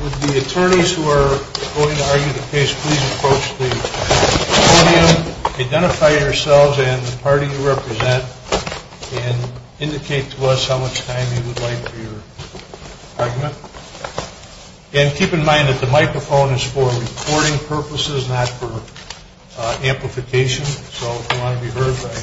Would the attorneys who are going to argue the case please approach the podium, identify yourselves and the party you represent, and indicate to us how much time you would like for your argument. And keep in mind that the microphone is for recording purposes, not for amplification. So if you want to be heard by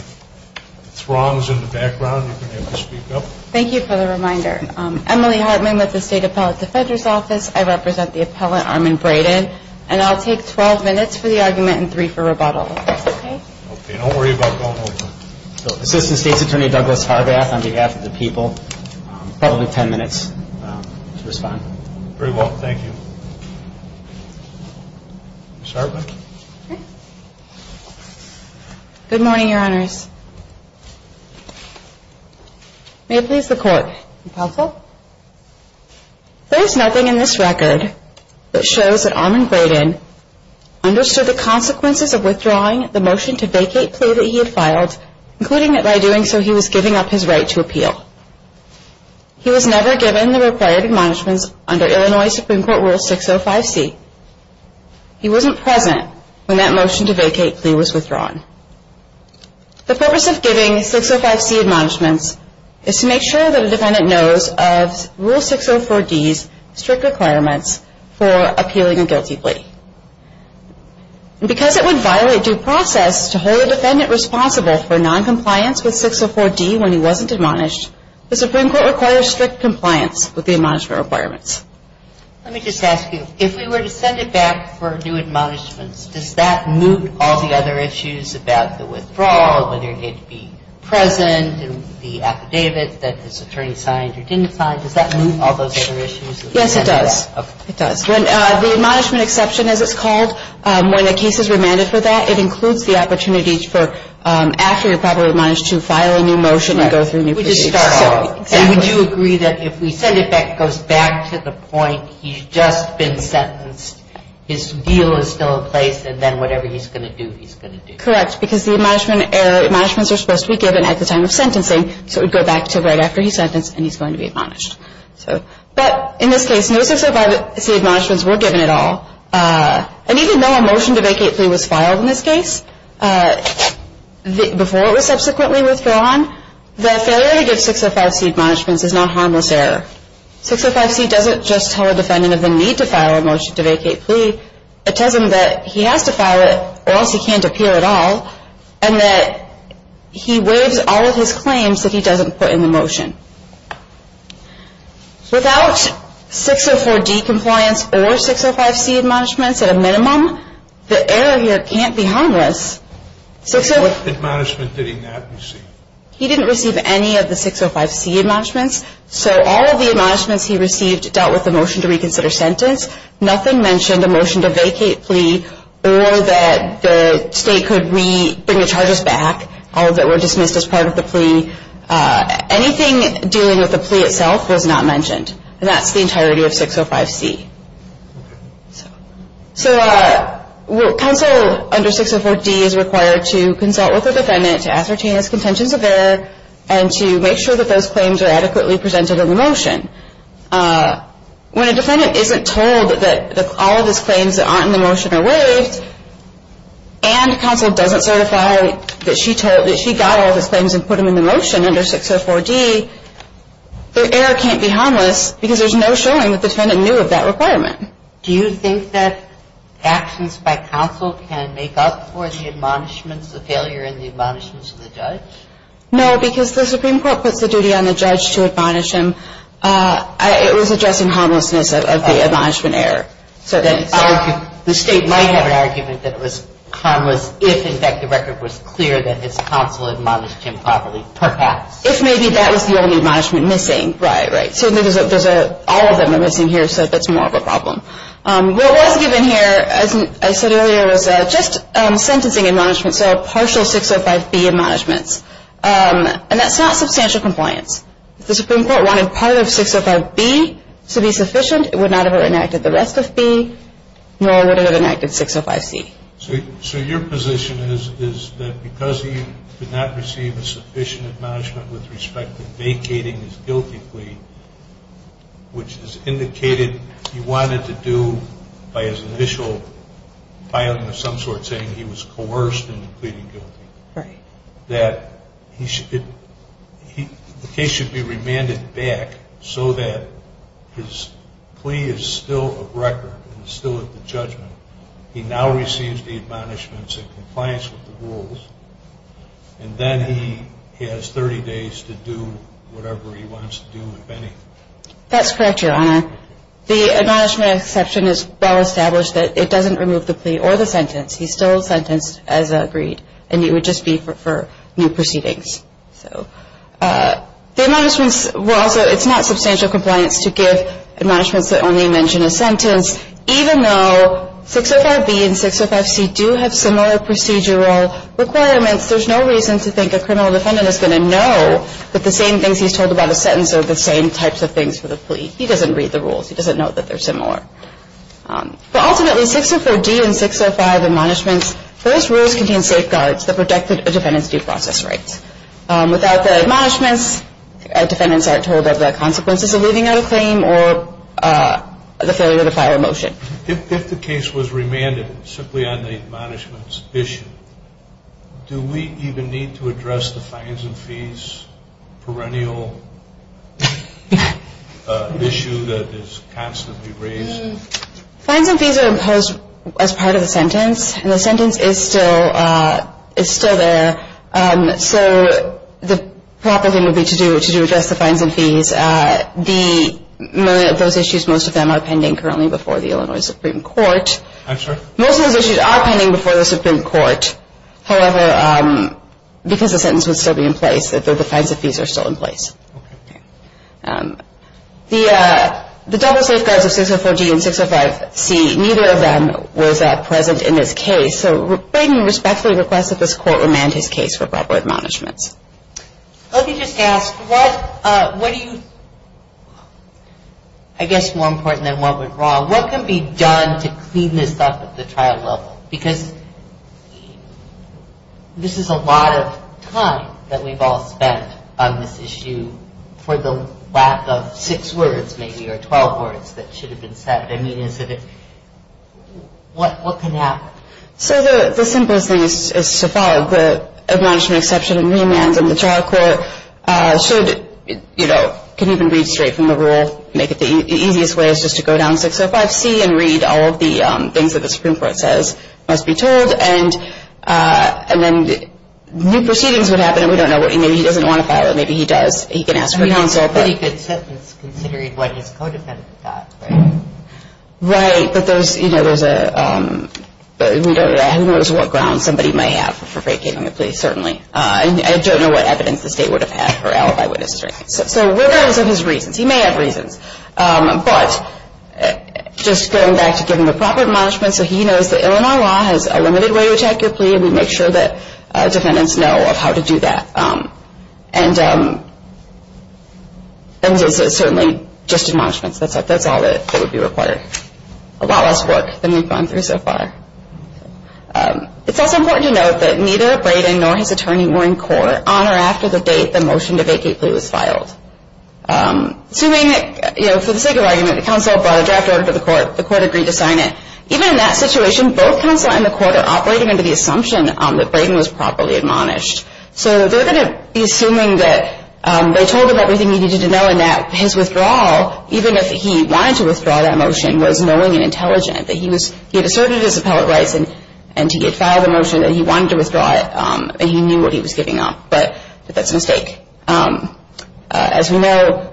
throngs in the background, you can speak up. Thank you for the reminder. I'm Emily Hartman with the State Appellate Defender's Office. I represent the appellant Armand Braden. And I'll take 12 minutes for the argument and three for rebuttal. Assistant State's Attorney Douglas Harbath on behalf of the people. Probably 10 minutes to respond. Very well, thank you. Ms. Hartman? Good morning, Your Honors. May it please the Court. Counsel? There is nothing in this record that shows that Armand Braden understood the consequences of withdrawing the motion to vacate plea that he had filed, including that by doing so he was giving up his right to appeal. He was never given the required admonishments under Illinois Supreme Court Rule 605C. He wasn't present when that motion to vacate plea was withdrawn. The purpose of giving 605C admonishments is to make sure that a defendant knows of Rule 604D's strict requirements for appealing a guilty plea. And because it would violate due process to hold a defendant responsible for noncompliance with 604D when he wasn't admonished, the Supreme Court requires strict compliance with the admonishment requirements. Let me just ask you, if we were to send it back for new admonishments, does that moot all the other issues about the withdrawal, whether it be present and the affidavit that this attorney signed or didn't sign? Does that moot all those other issues? Yes, it does. Okay. It does. When the admonishment exception, as it's called, when a case is remanded for that, it includes the opportunity for after you're probably admonished to file a new motion and go through new procedures. We just start all over. Exactly. Would you agree that if we send it back, it goes back to the point he's just been sentenced, his deal is still in place, and then whatever he's going to do, he's going to do? Correct, because the admonishments are supposed to be given at the time of sentencing, so it would go back to right after he's sentenced and he's going to be admonished. But in this case, no 605C admonishments were given at all. And even though a motion to vacate plea was filed in this case, before it was subsequently withdrawn, the failure to give 605C admonishments is not harmless error. 605C doesn't just tell a defendant of the need to file a motion to vacate plea. It tells him that he has to file it or else he can't appear at all, and that he waives all of his claims that he doesn't put in the motion. Without 604D compliance or 605C admonishments at a minimum, the error here can't be harmless. What admonishment did he not receive? He didn't receive any of the 605C admonishments, so all of the admonishments he received dealt with the motion to reconsider sentence. Nothing mentioned a motion to vacate plea or that the state could bring the charges back or that were dismissed as part of the plea. Anything dealing with the plea itself was not mentioned. And that's the entirety of 605C. So counsel under 604D is required to consult with the defendant to ascertain his contentions of error and to make sure that those claims are adequately presented in the motion. When a defendant isn't told that all of his claims that aren't in the motion are waived, and counsel doesn't certify that she got all of his claims and put them in the motion under 604D, the error can't be harmless because there's no showing that the defendant knew of that requirement. Do you think that actions by counsel can make up for the admonishments, the failure in the admonishments of the judge? No, because the Supreme Court puts the duty on the judge to admonish him. It was addressing harmlessness of the admonishment error. So the state might have an argument that it was harmless if, in fact, the record was clear that his counsel admonished him properly, perhaps. If maybe that was the only admonishment missing. Right, right. So all of them are missing here, so that's more of a problem. What was given here, as I said earlier, was just sentencing admonishments, so partial 605B admonishments. And that's not substantial compliance. If the Supreme Court wanted part of 605B to be sufficient, it would not have enacted the rest of B, nor would it have enacted 605C. So your position is that because he did not receive a sufficient admonishment with respect to vacating his guilty plea, which is indicated he wanted to do by his initial filing of some sort saying he was coerced into pleading guilty, that the case should be remanded back so that his plea is still a record and still at the judgment. He now receives the admonishments in compliance with the rules, and then he has 30 days to do whatever he wants to do, if any. That's correct, Your Honor. The admonishment exception is well established that it doesn't remove the plea or the sentence. He's still sentenced as agreed, and it would just be for new proceedings. So the admonishments were also, it's not substantial compliance to give admonishments that only mention a sentence, even though 605B and 605C do have similar procedural requirements, there's no reason to think a criminal defendant is going to know that the same things he's told about a sentence are the same types of things for the plea. He doesn't read the rules. He doesn't know that they're similar. But ultimately, 604D and 605 admonishments, those rules contain safeguards that protect a defendant's due process rights. Without the admonishments, defendants aren't told about the consequences of leaving out a claim or the failure to file a motion. If the case was remanded simply on the admonishments issue, do we even need to address the fines and fees perennial issue that is constantly raised? Fines and fees are imposed as part of the sentence, and the sentence is still there. So the proper thing would be to address the fines and fees. Most of those issues, most of them are pending currently before the Illinois Supreme Court. I'm sorry? Most of those issues are pending before the Supreme Court. However, because the sentence would still be in place, the fines and fees are still in place. Okay. The double safeguards of 604D and 605C, neither of them was present in this case. So I respectfully request that this Court remand his case for proper admonishments. Let me just ask, what do you – I guess more important than what went wrong, what can be done to clean this up at the trial level? Because this is a lot of time that we've all spent on this issue for the lack of six words maybe or 12 words that should have been said. I mean, is it – what can happen? So the simplest thing is to follow the admonishment exception and remands, and the trial court should, you know, can even read straight from the rule. The easiest way is just to go down 605C and read all of the things that the Supreme Court says must be told, and then new proceedings would happen, and we don't know what – maybe he doesn't want to file it. Maybe he does. He can ask for counsel. That's a pretty good sentence considering what his co-defendant got, right? Right. But those – you know, there's a – I haven't noticed what grounds somebody may have for breaking the plea, certainly. I don't know what evidence the State would have had for alibi witnesses or anything. So we're going to listen to his reasons. He may have reasons, but just going back to giving the proper admonishment so he knows that Illinois law has a limited way to attack your plea, and we make sure that defendants know of how to do that. And this is certainly just admonishments. That's all that would be required. A lot less work than we've gone through so far. It's also important to note that neither Brayden nor his attorney were in court on or after the date the motion to vacate plea was filed. Assuming that, you know, for the sake of argument, the counsel brought a draft order to the court, the court agreed to sign it. Even in that situation, both counsel and the court are operating under the assumption that Brayden was properly admonished. So they're going to be assuming that they told him everything he needed to know and that his withdrawal, even if he wanted to withdraw that motion, was knowing and intelligent, that he had asserted his appellate rights and he had filed a motion that he wanted to withdraw it and he knew what he was giving up. But that's a mistake. As we know,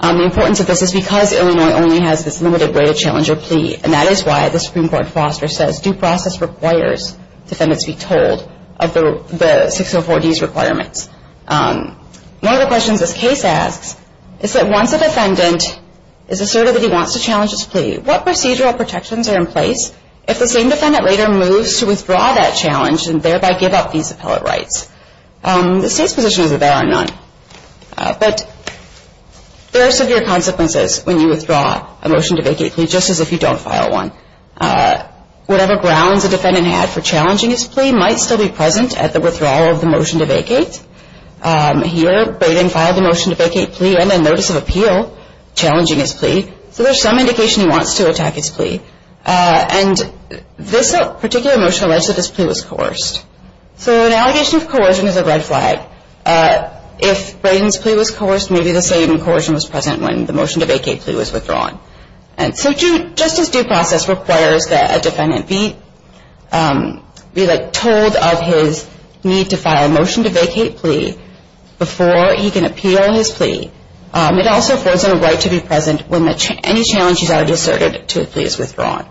the importance of this is because Illinois only has this limited way to challenge your plea, and that is why the Supreme Court foster says due process requires defendants be told of the 604D's requirements. One of the questions this case asks is that once a defendant is asserted that he wants to challenge his plea, what procedural protections are in place if the same defendant later moves to withdraw that challenge and thereby give up these appellate rights? The State's position is that there are none. But there are severe consequences when you withdraw a motion to vacate plea, just as if you don't file one. Whatever grounds a defendant had for challenging his plea might still be present at the withdrawal of the motion to vacate. Here Braden filed a motion to vacate plea and a notice of appeal challenging his plea, so there's some indication he wants to attack his plea. And this particular motion alleged that his plea was coerced. So an allegation of coercion is a red flag. If Braden's plea was coerced, maybe the same coercion was present when the motion to vacate plea was withdrawn. And so just as due process requires that a defendant be told of his need to file a motion to vacate plea before he can appeal his plea, it also affords him a right to be present when any challenge he's already asserted to a plea is withdrawn.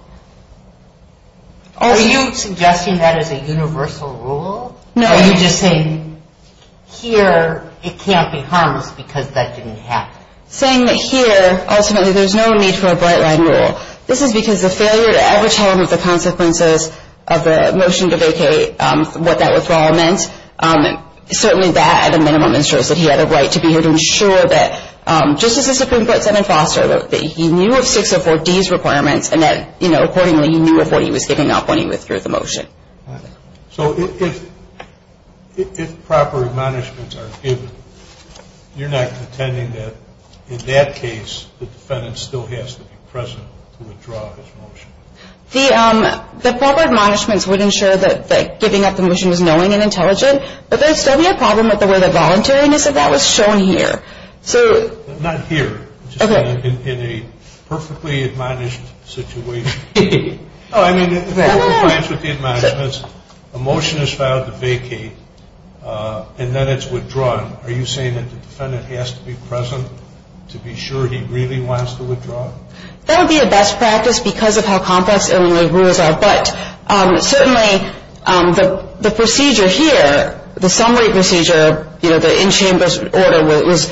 Are you suggesting that is a universal rule? No. Are you just saying here it can't be harmless because that didn't happen? I'm saying that here, ultimately, there's no need for a bright line rule. This is because the failure to ever tell him of the consequences of the motion to vacate, what that withdrawal meant, certainly that at a minimum ensures that he had a right to be here to ensure that, just as the Supreme Court said in Foster, that he knew of 604D's requirements and that, you know, accordingly he knew of what he was giving up when he withdrew the motion. So if proper admonishments are given, you're not contending that in that case the defendant still has to be present to withdraw his motion? The proper admonishments would ensure that giving up the motion is knowing and intelligent, but there would still be a problem with the voluntariness if that was shown here. Not here, just in a perfectly admonished situation. Oh, I mean, in compliance with the admonishments, a motion is filed to vacate and then it's withdrawn. Are you saying that the defendant has to be present to be sure he really wants to withdraw? That would be a best practice because of how complex Illinois rules are, but certainly the procedure here, the summary procedure, you know, the in-chambers order, where it was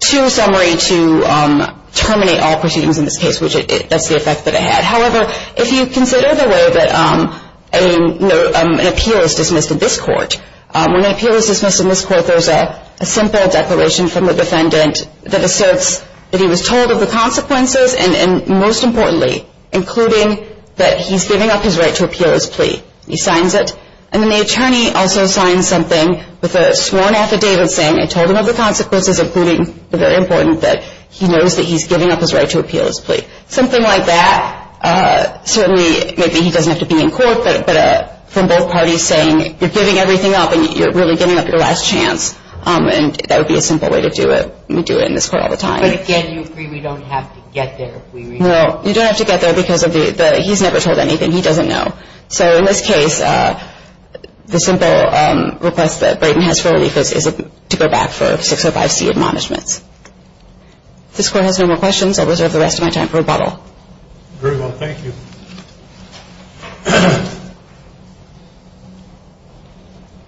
to a summary to terminate all proceedings in this case, which that's the effect that it had. However, if you consider the way that an appeal is dismissed in this court, when an appeal is dismissed in this court there's a simple declaration from the defendant that asserts that he was told of the consequences and, most importantly, including that he's giving up his right to appeal his plea. He signs it, and then the attorney also signs something with a sworn affidavit saying I told him of the consequences, including, very important, that he knows that he's giving up his right to appeal his plea. Something like that, certainly, maybe he doesn't have to be in court, but from both parties saying you're giving everything up and you're really giving up your last chance, and that would be a simple way to do it. We do it in this court all the time. But, again, you agree we don't have to get there. No, you don't have to get there because he's never told anything. He doesn't know. So in this case, the simple request that Brayden has for relief is to go back for 605C admonishments. If this Court has no more questions, I'll reserve the rest of my time for rebuttal. Very well. Thank you. Good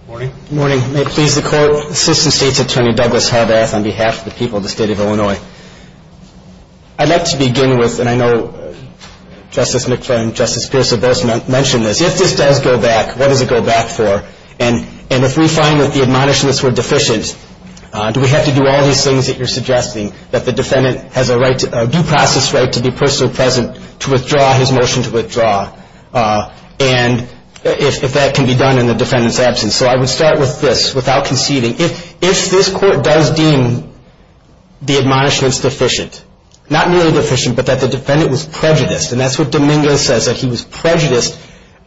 morning. Good morning. May it please the Court, Assistant State's Attorney Douglas Harbath on behalf of the people of the State of Illinois. I'd like to begin with, and I know Justice McClain and Justice Pierce have both mentioned this, if this does go back, what does it go back for? And if we find that the admonishments were deficient, do we have to do all these things that you're suggesting, that the defendant has a due process right to be personally present to withdraw his motion to withdraw, and if that can be done in the defendant's absence? So I would start with this, without conceding. If this Court does deem the admonishments deficient, not really deficient, but that the defendant was prejudiced, and that's what Dominguez says, that he was prejudiced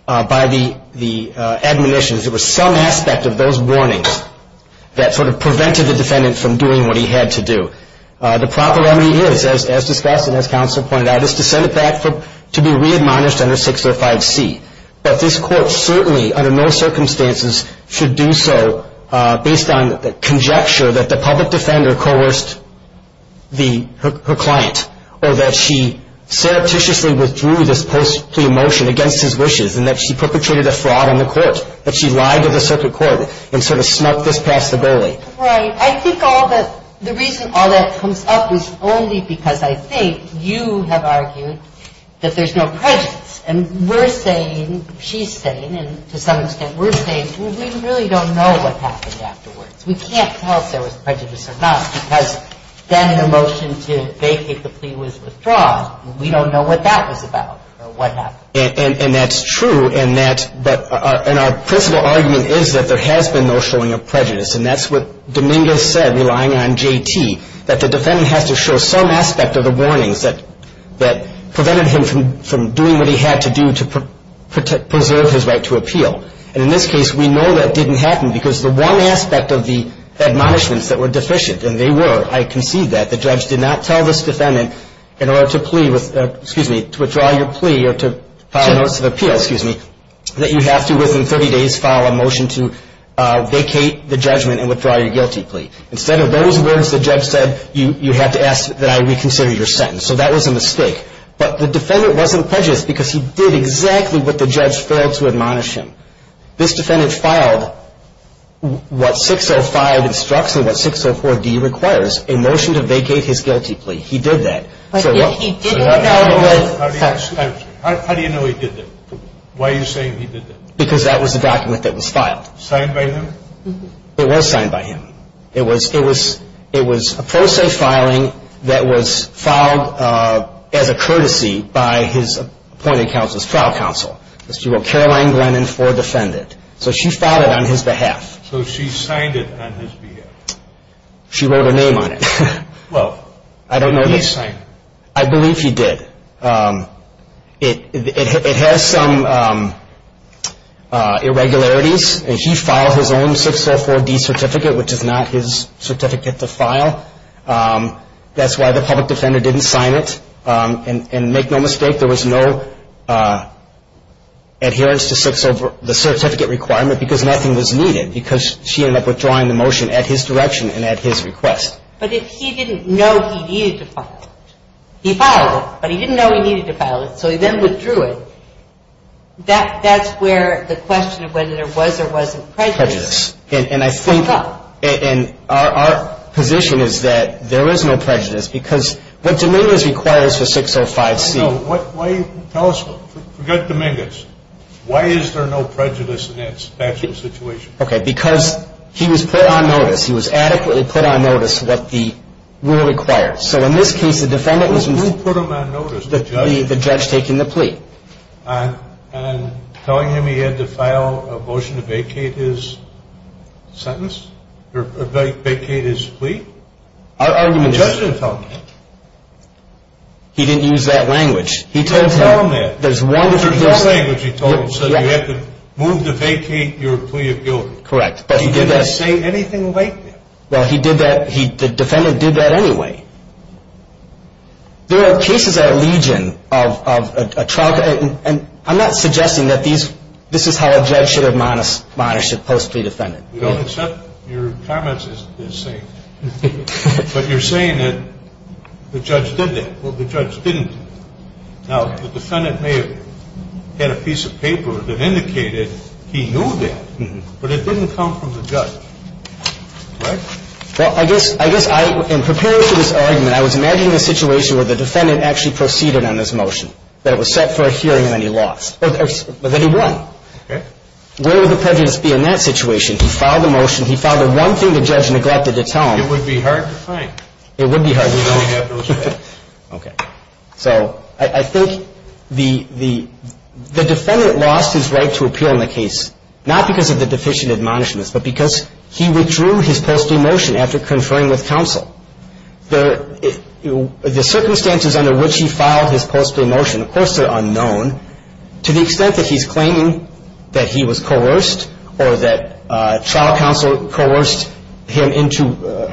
by the admonitions, it was some aspect of those warnings that sort of prevented the defendant from doing what he had to do. The proper remedy is, as discussed and as counsel pointed out, is to send it back to be re-admonished under 605C. But this Court certainly, under no circumstances, should do so based on the conjecture that the public defender coerced her client, or that she surreptitiously withdrew this post-plea motion against his wishes, and that she perpetrated a fraud on the Court, that she lied to the circuit court and sort of snuck this past the bully. Right. I think the reason all that comes up is only because I think you have argued that there's no prejudice, and we're saying, she's saying, and to some extent we're saying, well, we really don't know what happened afterwards. We can't tell if there was prejudice or not, because then the motion to vacate the plea was withdrawn. We don't know what that was about or what happened. And that's true, and our principle argument is that there has been no showing of prejudice, and that's what Dominguez said, relying on J.T., that the defendant has to show some aspect of the warnings that prevented him from doing what he had to do to preserve his right to appeal. And in this case, we know that didn't happen because the one aspect of the admonishments that were deficient, and they were, I concede that, the judge did not tell this defendant in order to withdraw your plea or to file a notice of appeal that you have to, within 30 days, file a motion to vacate the judgment and withdraw your guilty plea. Instead of those words the judge said, you have to ask that I reconsider your sentence. So that was a mistake. But the defendant wasn't prejudiced because he did exactly what the judge filed to admonish him. This defendant filed what 605 instructs and what 604D requires, a motion to vacate his guilty plea. He did that. But if he didn't know it was ---- How do you know he did that? Why are you saying he did that? Because that was a document that was filed. Signed by him? It was signed by him. It was a pro se filing that was filed as a courtesy by his appointed counsel's trial counsel. She wrote Caroline Glennon for defendant. So she filed it on his behalf. So she signed it on his behalf? She wrote her name on it. Well, did he sign it? I believe he did. It has some irregularities. He filed his own 604D certificate, which is not his certificate to file. That's why the public defender didn't sign it. And make no mistake, there was no adherence to the certificate requirement because nothing was needed, because she ended up withdrawing the motion at his direction and at his request. But if he didn't know he needed to file it, he filed it. But he didn't know he needed to file it, so he then withdrew it. That's where the question of whether there was or wasn't prejudice came up. And I think our position is that there was no prejudice because what Dominguez requires for 605C. Tell us, forget Dominguez. Why is there no prejudice in that special situation? Okay, because he was put on notice. He was adequately put on notice what the rule requires. Who put him on notice? The judge. The judge taking the plea. And telling him he had to file a motion to vacate his sentence? Vacate his plea? Our argument is. The judge didn't tell him that. He didn't use that language. He told him that. There's one. There's one language he told him, said you have to move to vacate your plea of guilt. Correct, but he did that. He didn't say anything like that. Well, he did that. The defendant did that anyway. There are cases at Legion of a trial. And I'm not suggesting that this is how a judge should admonish a post plea defendant. We don't accept your comments as saying that. But you're saying that the judge did that. Well, the judge didn't. Now, the defendant may have had a piece of paper that indicated he knew that, but it didn't come from the judge. Well, I guess in preparing for this argument, I was imagining a situation where the defendant actually proceeded on this motion. That it was set for a hearing and then he lost. Or that he won. Okay. Where would the prejudice be in that situation? He filed the motion. He filed it. One thing the judge neglected to tell him. It would be hard to find. It would be hard to find. You'd only have those facts. Okay. So I think the defendant lost his right to appeal in the case, not because of the deficient admonishments, but because he withdrew his post plea motion after conferring with counsel. The circumstances under which he filed his post plea motion, of course, are unknown. To the extent that he's claiming that he was coerced or that trial counsel coerced him into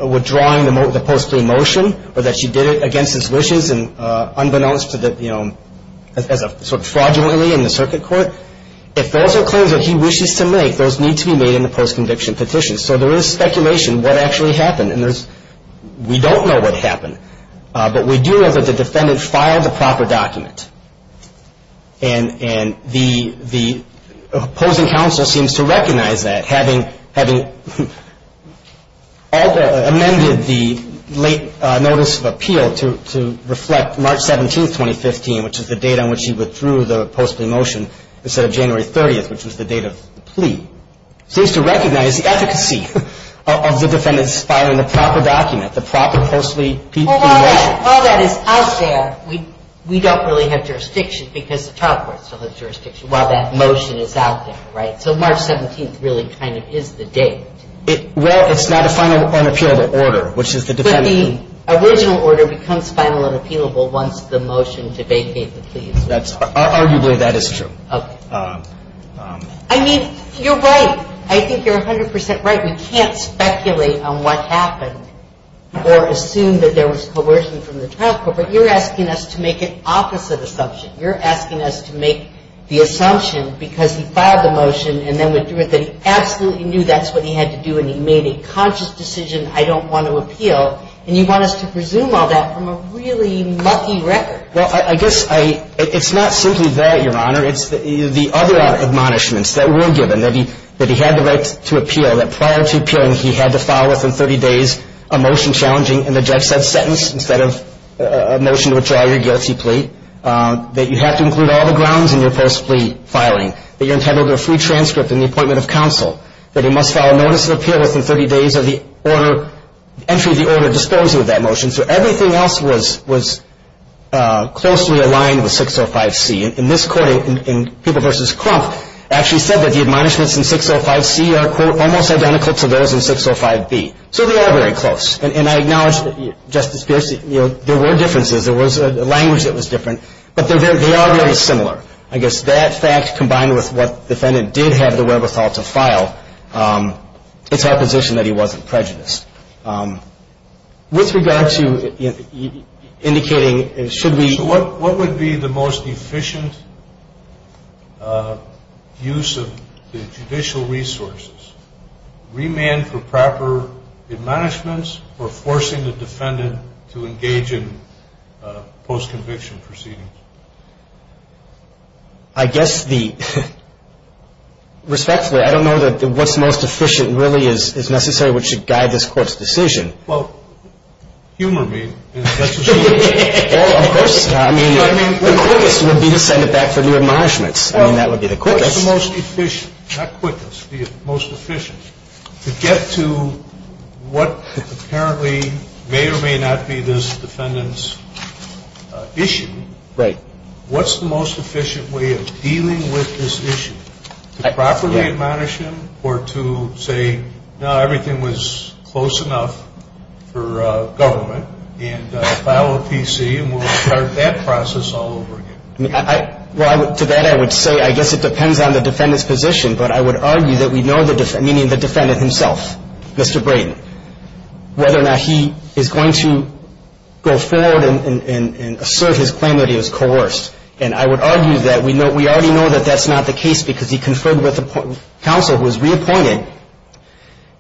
withdrawing the post plea motion, or that she did it against his wishes and unbeknownst to the, you know, as a sort of fraudulently in the circuit court. If those are claims that he wishes to make, those need to be made in the post conviction petition. So there is speculation what actually happened. And there's, we don't know what happened. But we do know that the defendant filed the proper document. And the opposing counsel seems to recognize that, having amended the late notice of appeal to reflect March 17, 2015, which is the date on which he withdrew the post plea motion instead of January 30th, which was the date of the plea, seems to recognize the efficacy of the defendant's filing the proper document, the proper post plea motion. Well, while that is out there, we don't really have jurisdiction because the trial court still has jurisdiction while that motion is out there. Right? So March 17th really kind of is the date. Well, it's not a final unappealable order, which is the defendant. The original order becomes final and appealable once the motion to vacate the plea is made. Arguably, that is true. Okay. I mean, you're right. I think you're 100% right. We can't speculate on what happened or assume that there was coercion from the trial court. But you're asking us to make an opposite assumption. You're asking us to make the assumption because he filed the motion and then withdrew it that he absolutely knew that's what he had to do and he made a conscious decision, I don't want to appeal. And you want us to presume all that from a really mucky record. Well, I guess it's not simply that, Your Honor. It's the other admonishments that were given, that he had the right to appeal, that prior to appealing he had to file within 30 days a motion challenging, and the judge said sentence instead of a motion to withdraw your guilty plea, that you have to include all the grounds in your post plea filing, that you're entitled to a free transcript and the appointment of counsel, that he must file a notice of appeal within 30 days of the entry of the order disposing of that motion. So everything else was closely aligned with 605C. In this court, in People v. Crump, actually said that the admonishments in 605C are, quote, almost identical to those in 605B. So they are very close. And I acknowledge, Justice Pierce, there were differences. There was a language that was different. But they are very similar. I guess that fact combined with what the defendant did have the wherewithal to file, it's our position that he wasn't prejudiced. With regard to indicating, should we ‑‑ So what would be the most efficient use of the judicial resources? Remand for proper admonishments or forcing the defendant to engage in post‑conviction proceedings? I guess the ‑‑ respectfully, I don't know that what's most efficient really is necessary which should guide this court's decision. Well, humor me. Well, of course. I mean, the quickest would be to send it back for new admonishments. I mean, that would be the quickest. What's the most efficient, not quickest, the most efficient, to get to what apparently may or may not be this defendant's issue? Right. What's the most efficient way of dealing with this issue? To properly admonish him or to say, no, everything was close enough for government and file a PC and we'll start that process all over again? Well, to that I would say I guess it depends on the defendant's position, but I would argue that we know the ‑‑ meaning the defendant himself, Mr. Brayden, whether or not he is going to go forward and assert his claim that he was coerced. And I would argue that we already know that that's not the case because he conferred with counsel, was reappointed,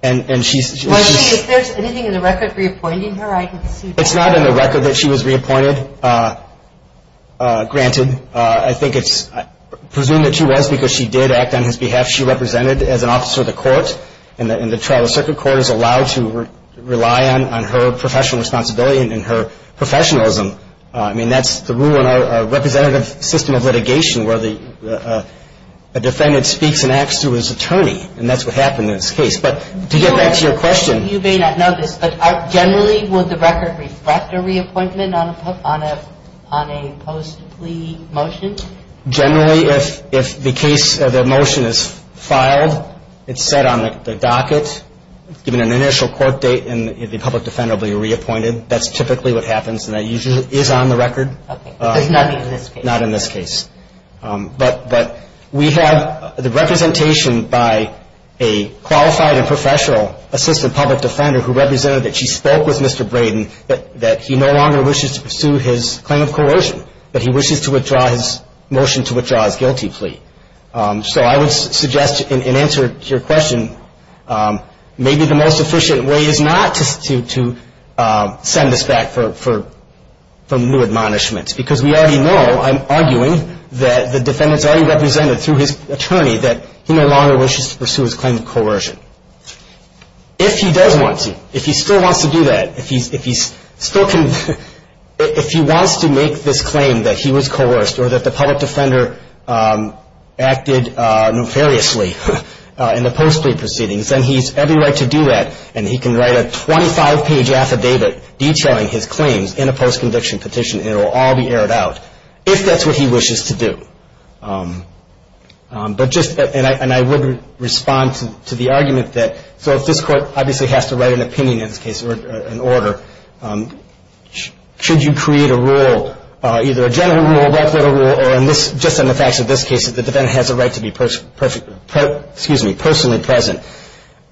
and she's ‑‑ Margie, is there anything in the record reappointing her? It's not in the record that she was reappointed. Granted, I think it's ‑‑ I presume that she was because she did act on his behalf. She represented as an officer of the court, and the Tribal Circuit Court is allowed to rely on her professional responsibility and her professionalism. I mean, that's the rule in our representative system of litigation where the defendant speaks and acts through his attorney, and that's what happened in this case. But to get back to your question ‑‑ Generally, would the record reflect a reappointment on a post plea motion? Generally, if the case ‑‑ the motion is filed, it's set on the docket, given an initial court date, and the public defendant will be reappointed. That's typically what happens, and that usually is on the record. Okay. But it's not in this case. Not in this case. But we have the representation by a qualified and professional assistant public defender who represented that she spoke with Mr. Braden, that he no longer wishes to pursue his claim of coercion, but he wishes to withdraw his motion to withdraw his guilty plea. So I would suggest in answer to your question, maybe the most efficient way is not to send this back for new admonishments, because we already know, I'm arguing, that the defendant's already represented through his attorney that he no longer wishes to pursue his claim of coercion. If he does want to, if he still wants to do that, if he wants to make this claim that he was coerced or that the public defender acted nefariously in the post plea proceedings, then he has every right to do that, and he can write a 25‑page affidavit detailing his claims in a post conviction petition, and it will all be aired out, if that's what he wishes to do. But just, and I would respond to the argument that, so if this court obviously has to write an opinion in this case, or an order, should you create a rule, either a general rule, a reputable rule, or just in the facts of this case, if the defendant has a right to be personally present,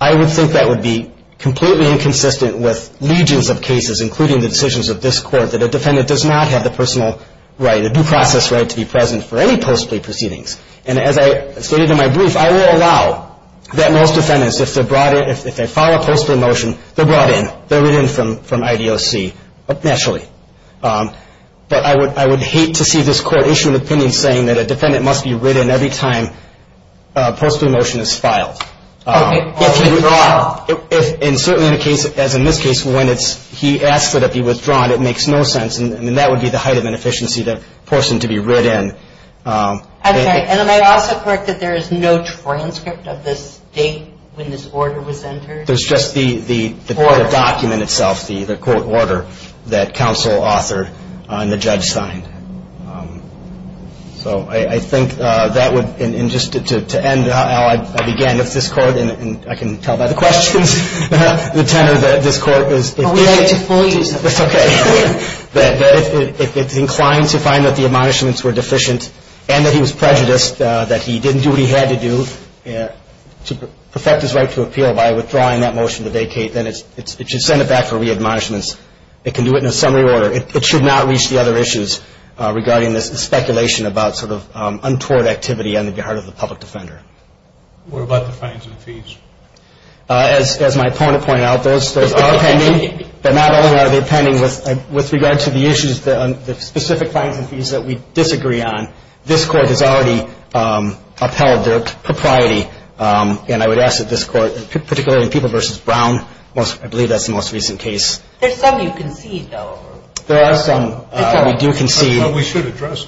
I would think that would be completely inconsistent with legions of cases, including the decisions of this court, that a defendant does not have the personal right, the due process right to be present for any post plea proceedings, and as I stated in my brief, I will allow that most defendants, if they file a post plea motion, they're brought in, they're written in from IDOC, naturally. But I would hate to see this court issue an opinion saying that a defendant must be written in every time a post plea motion is filed. Okay, or withdrawn. And certainly in a case, as in this case, when he asks that it be withdrawn, it makes no sense, and that would be the height of inefficiency, the person to be written in. I'm sorry, and am I also correct that there is no transcript of this date when this order was entered? There's just the court document itself, the court order, that counsel authored and the judge signed. So I think that would, and just to end how I began with this court, and I can tell by the questions, the tenor that this court is. It's okay. If it's inclined to find that the admonishments were deficient and that he was prejudiced, that he didn't do what he had to do to perfect his right to appeal by withdrawing that motion today, Kate, then it should send it back for re-admonishments. It can do it in a summary order. It should not reach the other issues regarding this speculation about sort of untoward activity on the part of the public defender. What about the fines and fees? As my opponent pointed out, those are pending, but not only are they pending with regard to the issues, the specific fines and fees that we disagree on. This court has already upheld their propriety, and I would ask that this court, particularly in People v. Brown, I believe that's the most recent case. There's some you concede, though. There are some we do concede. That's what we should address.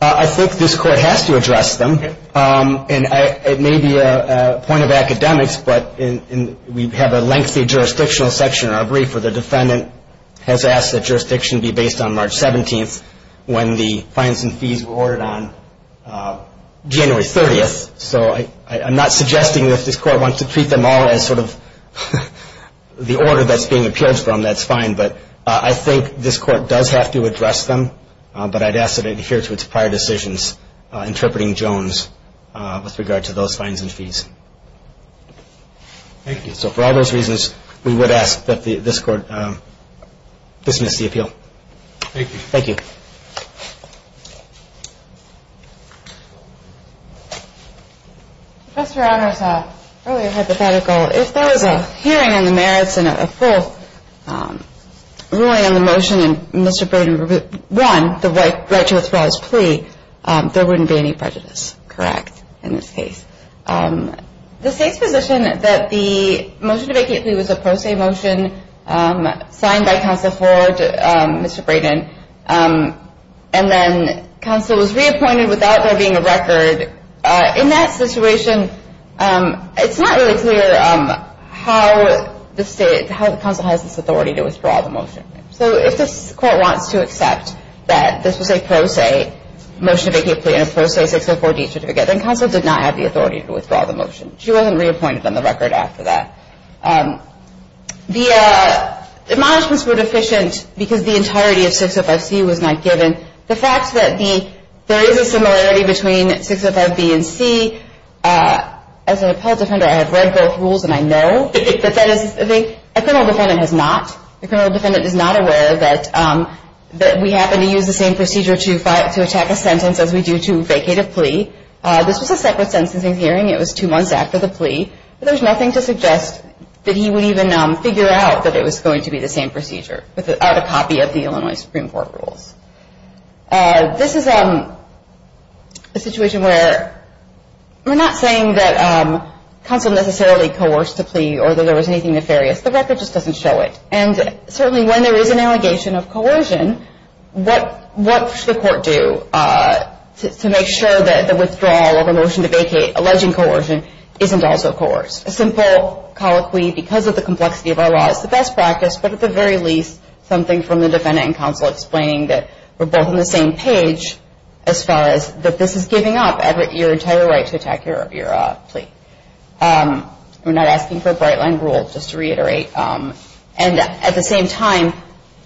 I think this court has to address them, and it may be a point of academics, but we have a lengthy jurisdictional section in our brief where the defendant has asked that jurisdiction be based on March 17th when the fines and fees were ordered on January 30th. So I'm not suggesting that if this court wants to treat them all as sort of the order that's being appealed from, that's fine, but I think this court does have to address them, but I'd ask that it adhere to its prior decisions interpreting Jones with regard to those fines and fees. Thank you. So for all those reasons, we would ask that this court dismiss the appeal. Thank you. Thank you. Professor Adler's earlier hypothetical, if there was a hearing on the merits and a full ruling on the motion, and Mr. Braden won the right to withdraw his plea, there wouldn't be any prejudice, correct, in this case? The State's position that the motion to vacate plea was a pro se motion signed by Counsel Ford, Mr. Braden, and then Counsel was reappointed without there being a record, in that situation it's not really clear how the State, how the Counsel has this authority to withdraw the motion. So if this court wants to accept that this was a pro se motion to vacate plea and a pro se 604D certificate, then Counsel did not have the authority to withdraw the motion. She wasn't reappointed on the record after that. The admonishments were deficient because the entirety of 605C was not given. The fact that there is a similarity between 605B and C, as an appellate defender I have read both rules and I know, but that is a thing a criminal defendant has not. A criminal defendant is not aware that we happen to use the same procedure to attack a sentence as we do to vacate a plea. This was a separate sentencing hearing. It was two months after the plea, but there's nothing to suggest that he would even figure out that it was going to be the same procedure without a copy of the Illinois Supreme Court rules. This is a situation where we're not saying that Counsel necessarily coerced a plea or that there was anything nefarious. The record just doesn't show it. And certainly when there is an allegation of coercion, what should the court do to make sure that the withdrawal of a motion to vacate alleging coercion isn't also coerced? A simple colloquy, because of the complexity of our law, is the best practice, but at the very least something from the defendant and Counsel explaining that we're both on the same page as far as that this is giving up your entire right to attack your plea. We're not asking for a bright-line rule, just to reiterate. And at the same time,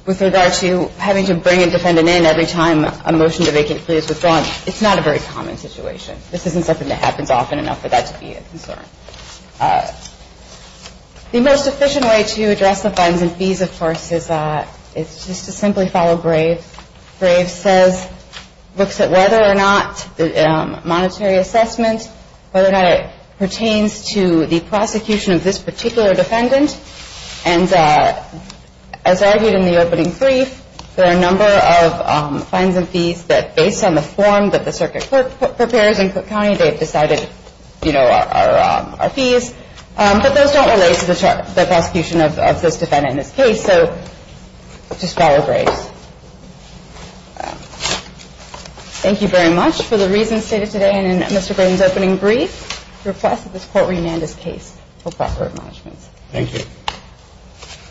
with regard to having to bring a defendant in every time a motion to vacate a plea is withdrawn, it's not a very common situation. This isn't something that happens often enough for that to be a concern. The most efficient way to address the funds and fees, of course, is just to simply follow Graves. Graves says, looks at whether or not the monetary assessment, whether or not it pertains to the prosecution of this particular defendant. And as argued in the opening brief, there are a number of funds and fees that, based on the form that the circuit clerk prepares in Cook County, they've decided are fees. But those don't relate to the prosecution of this defendant in this case, so just follow Graves. Thank you very much. For the reasons stated today and in Mr. Graydon's opening brief, we request that this Court reamend this case for proper admonishments. Thank you.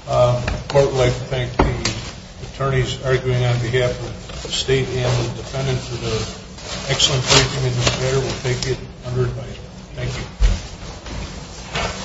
The Court would like to thank the attorneys arguing on behalf of the State and the defendant for the excellent briefing, and we'll take it under advice. Thank you.